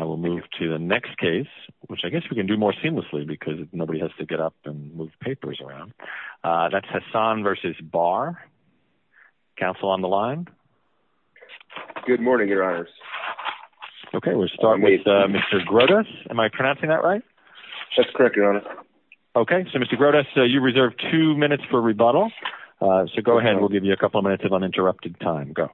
to the next case. W more seamlessly because n and move papers around. U bar council on the line. honors. Okay, we'll start am I pronouncing that righ Okay. So Mr Grotes, you r for rebuttal. So go ahead of uninterrupted time. Go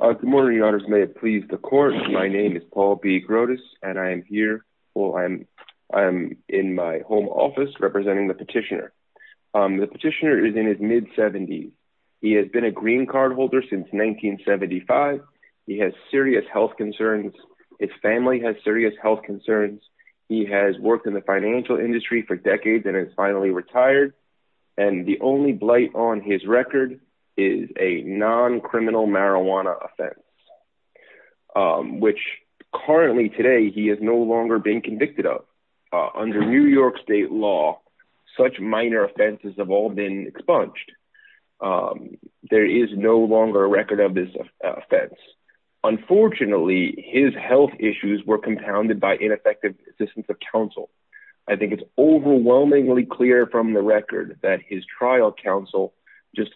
may it please the court m be Grotes and I'm here. W home office representing petitioner is in his mid a green card holder since health concerns. His fami concerns. He has worked i for decades and is finall blight on his record is a currently today he is no of under new york state l have all been expunged. U a record of this offense. issues were compounded by of counsel. I think it's from the record that his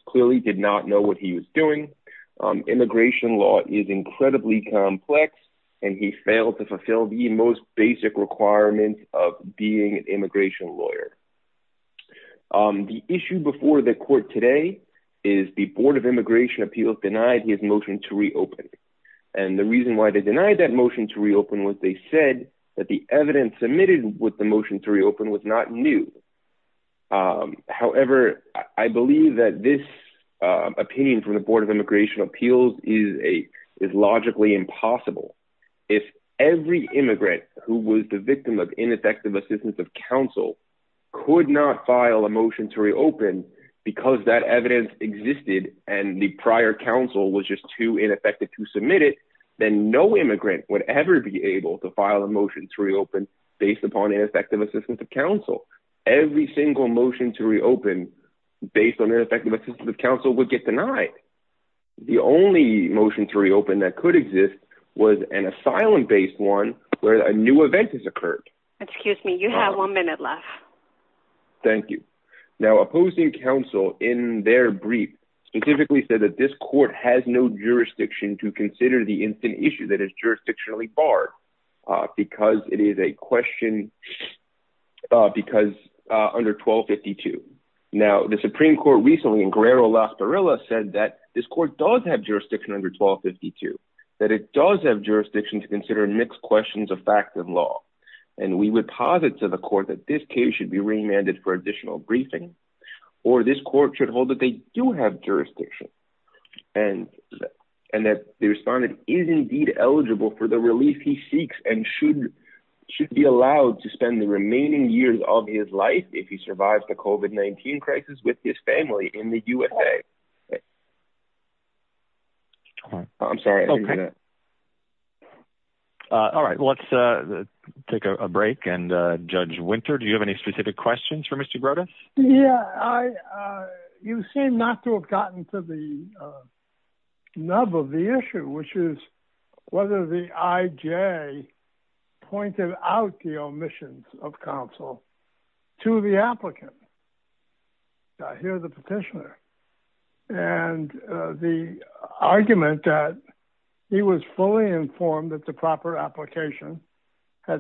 clearly did not know what immigration law is incred he failed to fulfill the of being an immigration l before the court today is appeals denied his motion reason why they denied th was they said that the ev the motion to reopen was I believe that this uh op of Immigration Appeals is If every immigrant who wa assistance of counsel cou to reopen because that ev the prior council was jus to submit it, then no imm be able to file a motion ineffective assistance of motion to reopen based on of counsel would get deni to reopen that could exist based one where a new eve me. You have one minute l opposing counsel in their said that this court has consider the instant issu bar because it is a quest because under 12 52. Now, recently in Guerrero las P court does have jurisdict it does have jurisdiction of fact and law. And we w court that this case shoul additional briefing or th that they do have jurisdi the respondent is indeed the relief he seeks and s to spend the remaining yea he survives the covid 19 in the U. S. A. I'm sorry let's take a break and ju have any specific question Yeah, I uh you seem not t of the uh nub of the issu the I. J. Pointed out the to the applicant. I hear the argument that he was the proper application ha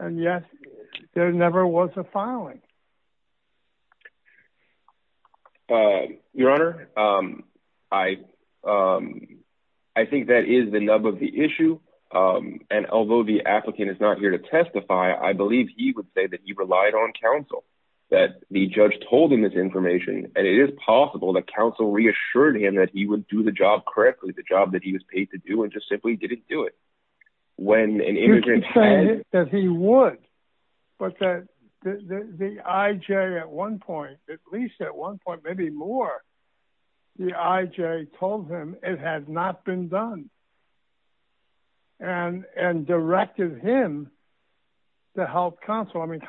And yes, there never was honor. Um I um I think th issue. Um And although th here to testify, I believ he relied on counsel that this information and it i reassured him that he wou the job that he was paid didn't do it. When an ima he would, but the I. J. A at one point, maybe more it had not been done and to help counsel. I mean,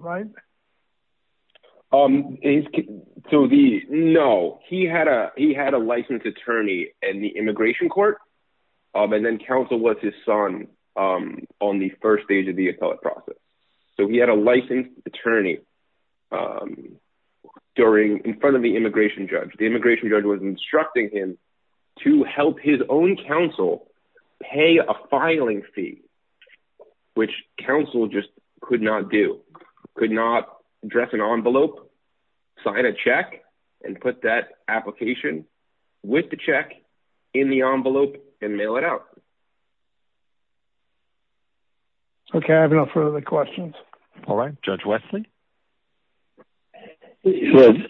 right? Um so the no, he h attorney and the immigrat council was his son. Um, the appellate process. So attorney. Um, during in f judge, the immigration ju him to help his own counc fee, which council just c not dress an envelope, sig and put that application the envelope and mail it for the questions. All ri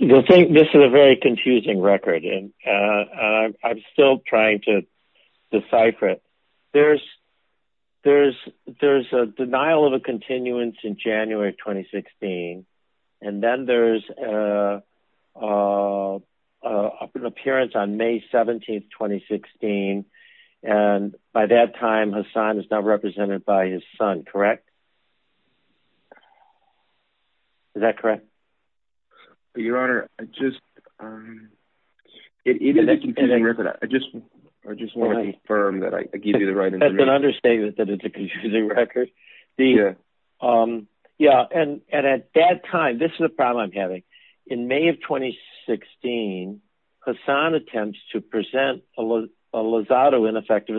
you'll think this is a ve and uh I'm still trying t there's there's a denial in january 2016. And then on May 17, 2016. And by t not represented by his so correct? Your honor. I ju record. I just, I just wa I give you the right to u that it's a confusing rec and at that time, this is in May of 2016 Hassan att a lot of Los auto ineffec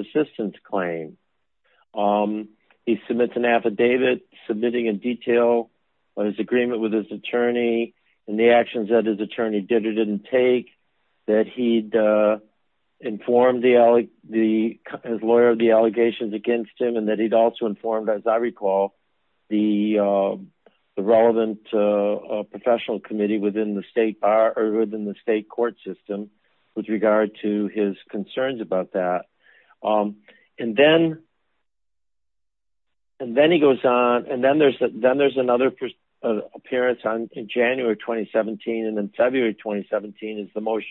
Um, he submits an affidav in detail on his agreemen and the actions that his take that he'd uh informe of the allegations against also informed, as I recal uh, professional committe bar or within the state c regard to his concerns ab then and then he goes on then there's another appe 2017 and then February 20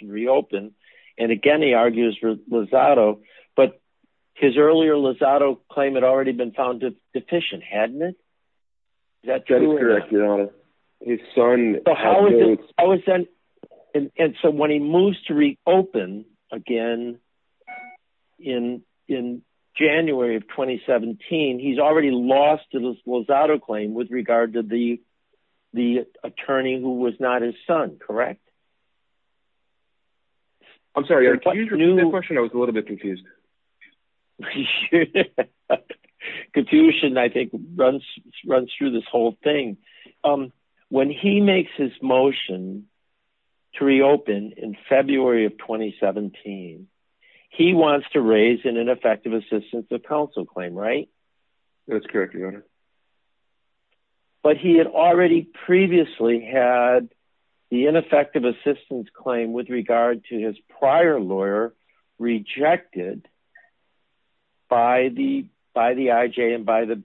reopened. And again, he a his earlier Los auto clai found deficient. Hadn't i your honor. His son, how he moves to reopen again of 2017, he's already los claim with regard to the who was not his son. Corr that question. I was a li sure confusion. I think r this whole thing. Um, wha to reopen in February of to raise an ineffective a claim, right? That's corre your honor. But he had al had the ineffective assist to his prior lawyer rejec I. J. And by the,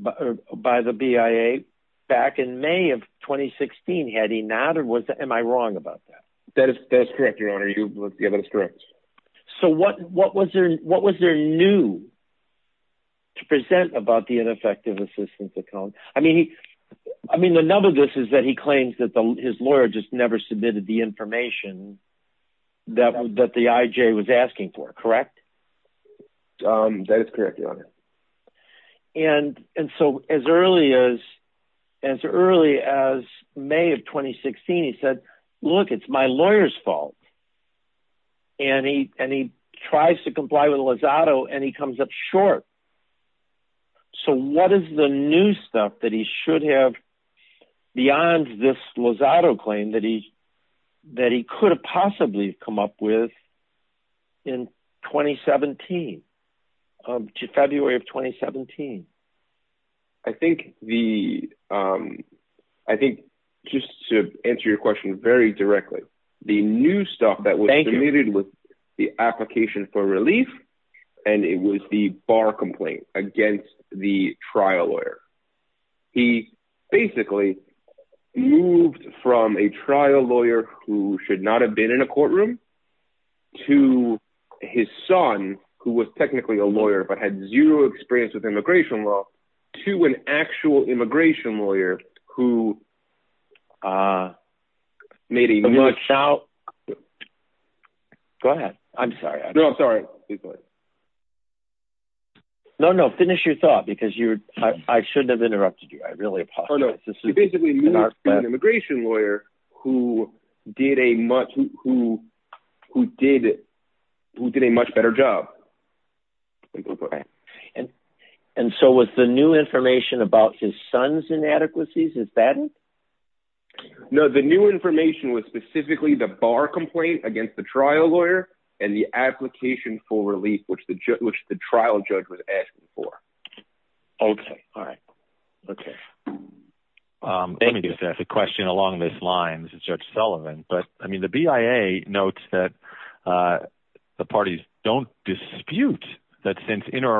by the of 2016. Had he not? Or w that? That is correct. Yo it's correct. So what, wh there new to present abou assistance account? I mea of this is that he claims just never submitted the i the I. J. Was asking for, correct? Your honor. And as May of 2016, he said, it's my lawyer's fault. to comply with Lozado and So what is the new stuff beyond this Lozado claim possibly come up with in of 2017. I think the, I t your question very direct that was needed with the and it was the bar compla lawyer. He basically move who should not have been his son who was technical zero experience with immi to an actual immigration much out. Go ahead. I'm s please go ahead. No, no, because you're, I shouldn you. I really apologize. lawyer who did a much, wh who did a much better job the new information about is that no, the new infor the bar complaint against and the application for re the trial judge was askin Okay. Um, let me just ask this line. This is judge I mean, the BIA notes tha dispute that since in or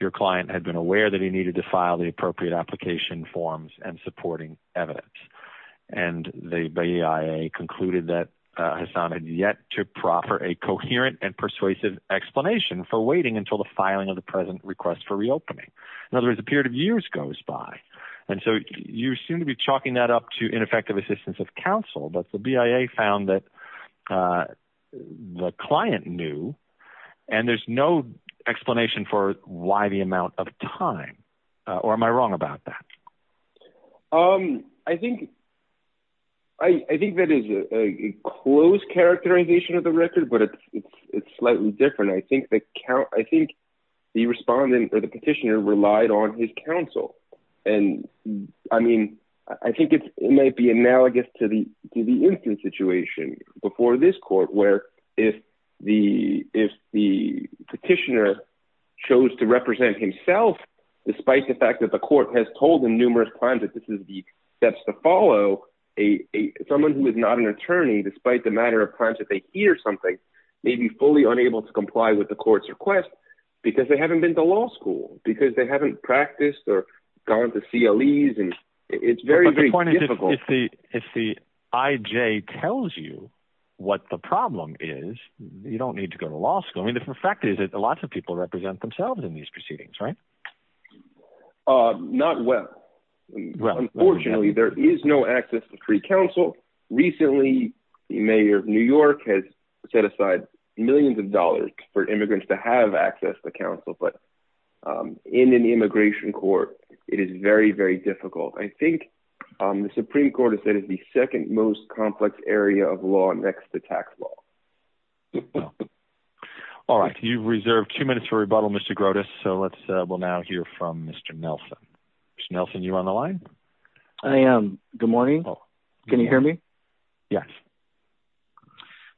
your client had been aware to file the appropriate a and supporting evidence. that has sounded yet to p and persuasive explanatio the filing of the present In other words, the perio And so you seem to be cha assistance of counsel. B uh, the client knew and t for why the amount of tim about that? Um, I think, a close characterization it's slightly different. I think the respondent or on his counsel. And I mea might be analogous to the before this court, where petitioner chose to repre the fact that the court h times that this is the st who is not an attorney de of times that they hear s unable to comply with the they haven't been to law haven't practiced or gone very, very difficult. If what the problem is, you law school. I mean, the f of people represent thems right? Uh, not well, unfo no access to free counsel of new york has set aside access to counsel. But, u court, it is very, very d Supreme Court has said is area of law next to tax l you've reserved two minute So let's we'll now hear f you on the line. I am. Go hear me? Yes.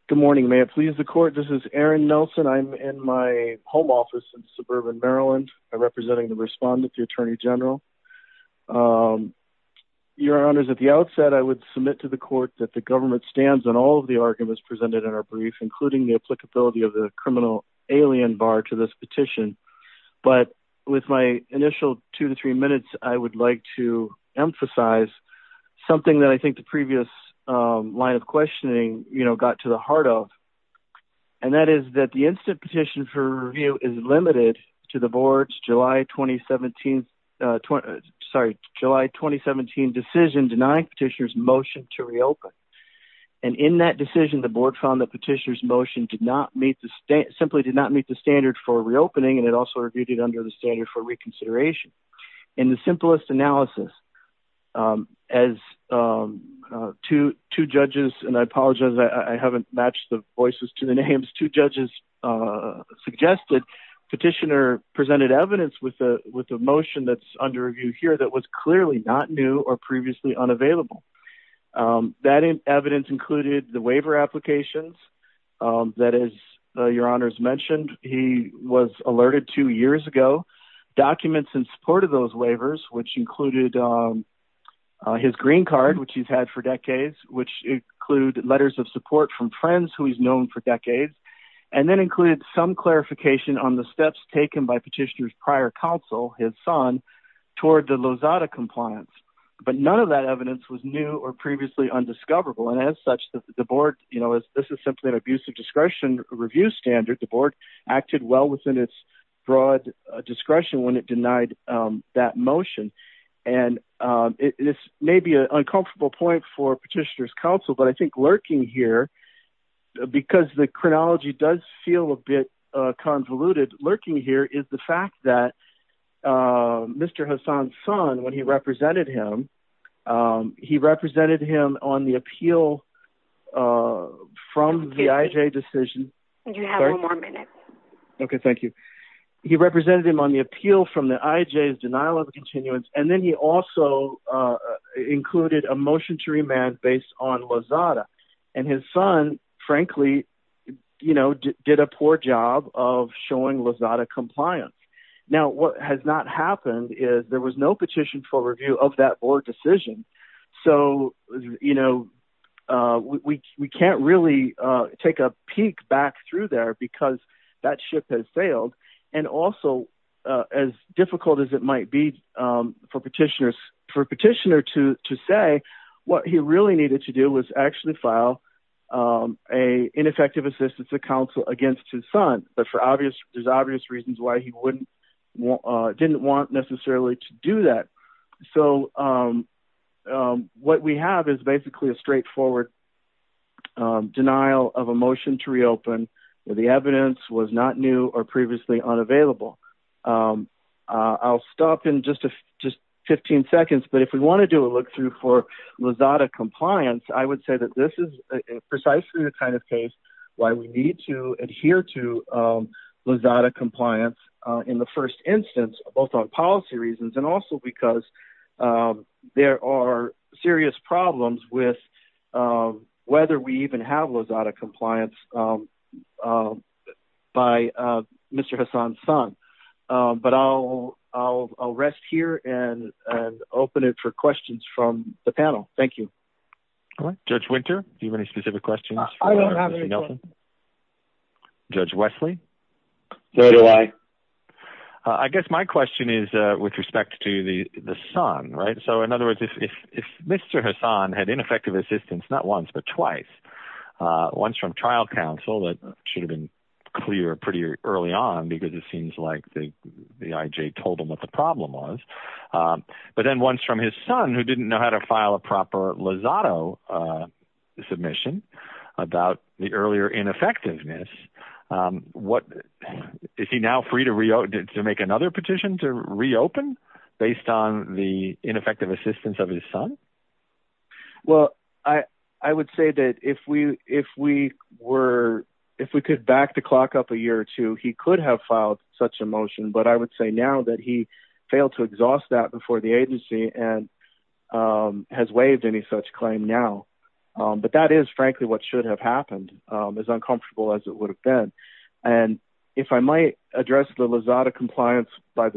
Good mornin This is Aaron Nelson. I'm in suburban Maryland, repr the attorney general. Um, outset, I would submit to government stands on all in our brief, including t the criminal alien bar to emphasize something that line of questioning, you the heart of. And that is for review is limited to uh, sorry, july 2017 deci motion to reopen. And in board found the petitione meet the state simply did for reopening. And it als the standard for reconsid analysis. Um, as um, uh, I apologize. I haven't ma to the names. Two judges, presented evidence with t that's under review here. not new or previously unav evidence included the wai that is your honors menti two years ago, documents waivers, which included, um, his green card, which which include letters of who he's known for decade some clarification on the petitioner's prior counsel the Lozada compliance. Bu was new or previously und that the board, you know, an abusive discretion rev board acted well within i denied that motion. And u point for petitioner's co lurking here because the a bit convoluted lurking that uh, Mr Hassan's son him, um, he represented h uh, from the I. J. Decisi minute. Okay, thank you. He represented him on the denial of continuance. An a motion to remand based son, frankly, you know, d showing Lozada compliance happened is there was no we can't really take a pe because that ship has sai difficult as it might be for petitioner to say wha to do was actually file, of counsel against his so there's obvious reasons w want necessarily to do th we have is basically a str denial of a motion to reo was not new or previously stop in just just 15 seco to do a look through for I would say that this is of case why we need to ad compliance in the first i reasons and also because there are serious problem even have Lozada complianc son. Um, but I'll, I'll r it for questions from the you. Judge winter. Do you questions? I don't have n So do I. I guess my quest is with respect to the so if, if, if Mr Hassan had not once but twice. Uh, o that should have been cle because it seems like the the problem was. Um, but son who didn't know how t uh, submission about the Um, what is he now free t to reopen based on the in of his son? Well, I, I wo we, if we were, if we cou a year or two, he could h a motion. But I would say to exhaust that before th waived any such claim now what should have happened as it would have been. An address the Lozada compli I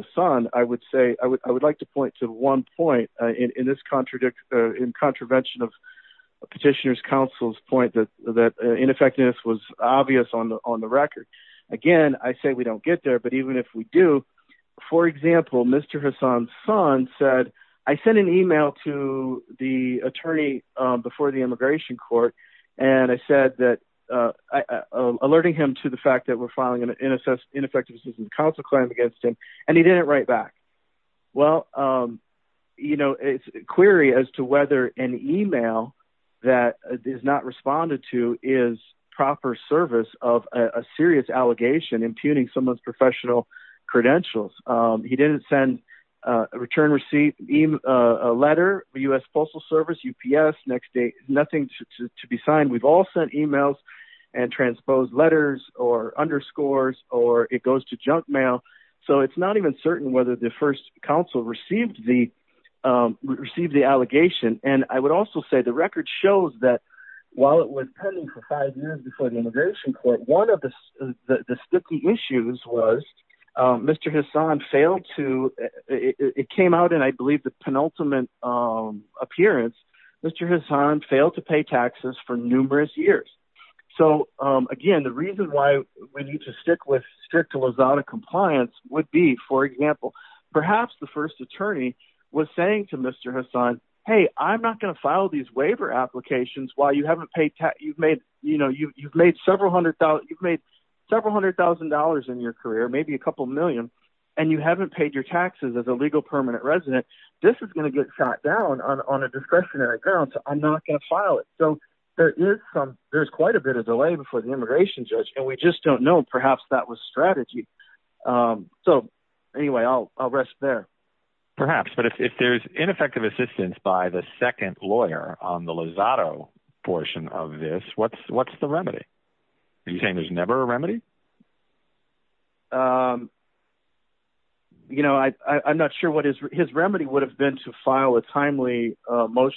would say, I would, I w to one point in this cont of Petitioners Council's was obvious on the, on th say we don't get there. B example, Mr Hassan's son to the attorney before th and I said that, uh, aler to the fact that we're fi decision, the council cla he didn't write back. Wel query as to whether an em to is proper service of a impugning someone's profe He didn't send a return r U. S. Postal Service. U. P to be signed. We've all s and transposed letters or to junk mail. So it's not the first council receive allegation. And I would a shows that while it was p the immigration court, on issues was Mr Hassan fail and I believe the penulti Mr Hassan failed to pay t So again, the reason why with strict Luzardo compl example, perhaps the firs to Mr Hassan, hey, I'm no waiver applications. Whil you've made, you know, yo $100,000, you've made sev your career, maybe a coupl haven't paid your taxes a resident. This is going t a discretionary grounds. I'm not going to file it. there's quite a bit of de judge and we just don't k strategy. Um, so anyway, Perhaps. But if there's i by the second lawyer on t of this, what's, what's t saying there's never a re I'm not sure what his, hi been to file a timely mot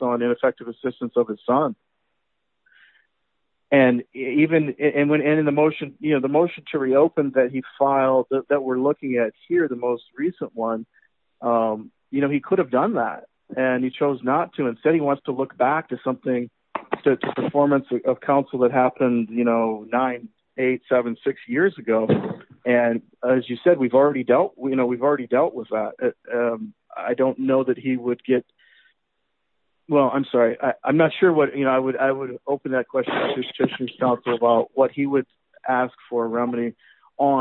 on ineffective assistance even in the motion, the m that he filed that we're most recent one. Um, you done that and he chose no wants to look back to som of council that happened, 7-6 years ago. And as you I don't know that he would I'm not sure what, you kn open that question to sti he would ask for remedy o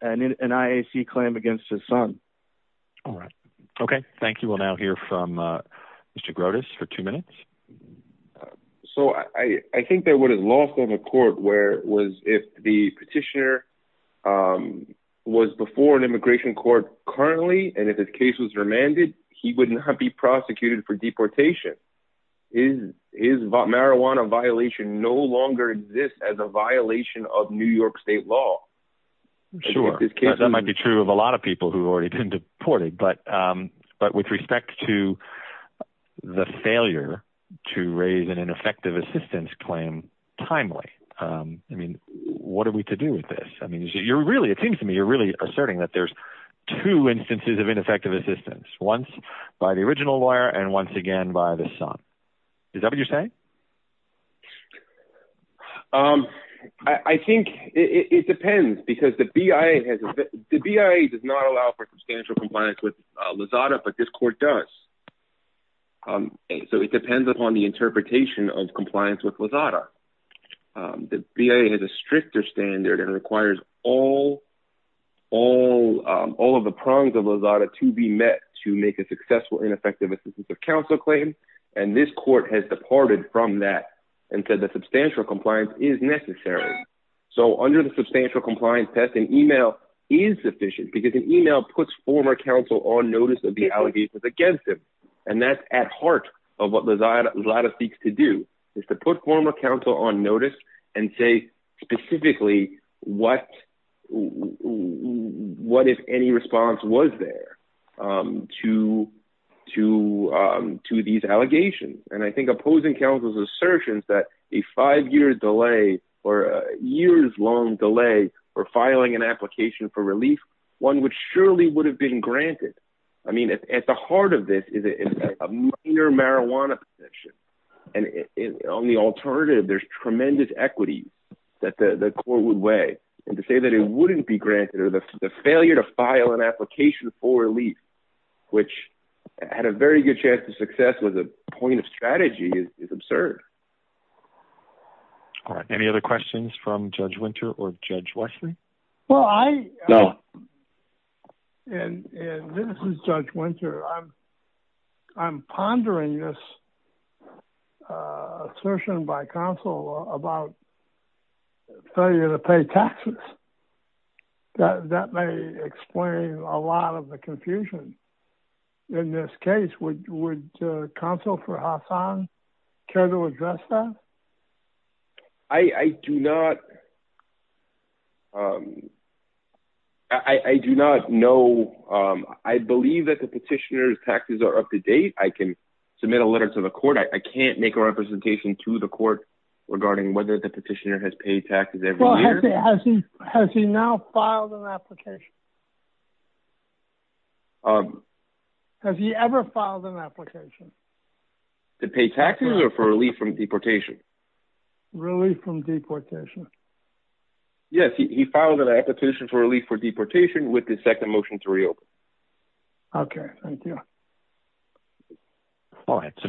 against his son. All right will now hear from uh Mr minutes. So I think that of a court where was if t before an immigration cour if his case was remanded, be prosecuted for deporta violation no longer exist of new york state law. Su be true of a lot of peopl deported. But um, but wit failure to raise an ineff claim timely. Um, I mean, with this? I mean, you're me, you're really asserti two instances of ineffect by the original lawyer and son. Is that what you're it depends because the B. not allow for substantial this court does. Um, so i interpretation of complia The B. A. Has a stricter requires all, all, all of to be met to make a succe of counsel claim. And thi from that and said the su is necessary. So under th test, an email is suffici puts former counsel on no against him. And that's a lot of seeks to do is to and say specifically what was there? Um, to, to, um And I think opposing coun that a five year delay or for filing an application which surely would have b at the heart of this is a possession. And on the al tremendous equity that th and to say that it wouldn the failure to file an ap which had a very good chan a point of strategy is ab other questions from Judge Well, I know and this is I'm, I'm pondering this u about failure to pay taxe a lot of the confusion in counsel for Hassan care t I do not, um, I do not kn that the petitioner's tax I can submit a letter to make a representation to whether the petitioner ha Well, has he, has he, has application? Um, have you application to pay taxes o deportation? Really from he filed an application f the second motion to reope All right. So Mr Brotus a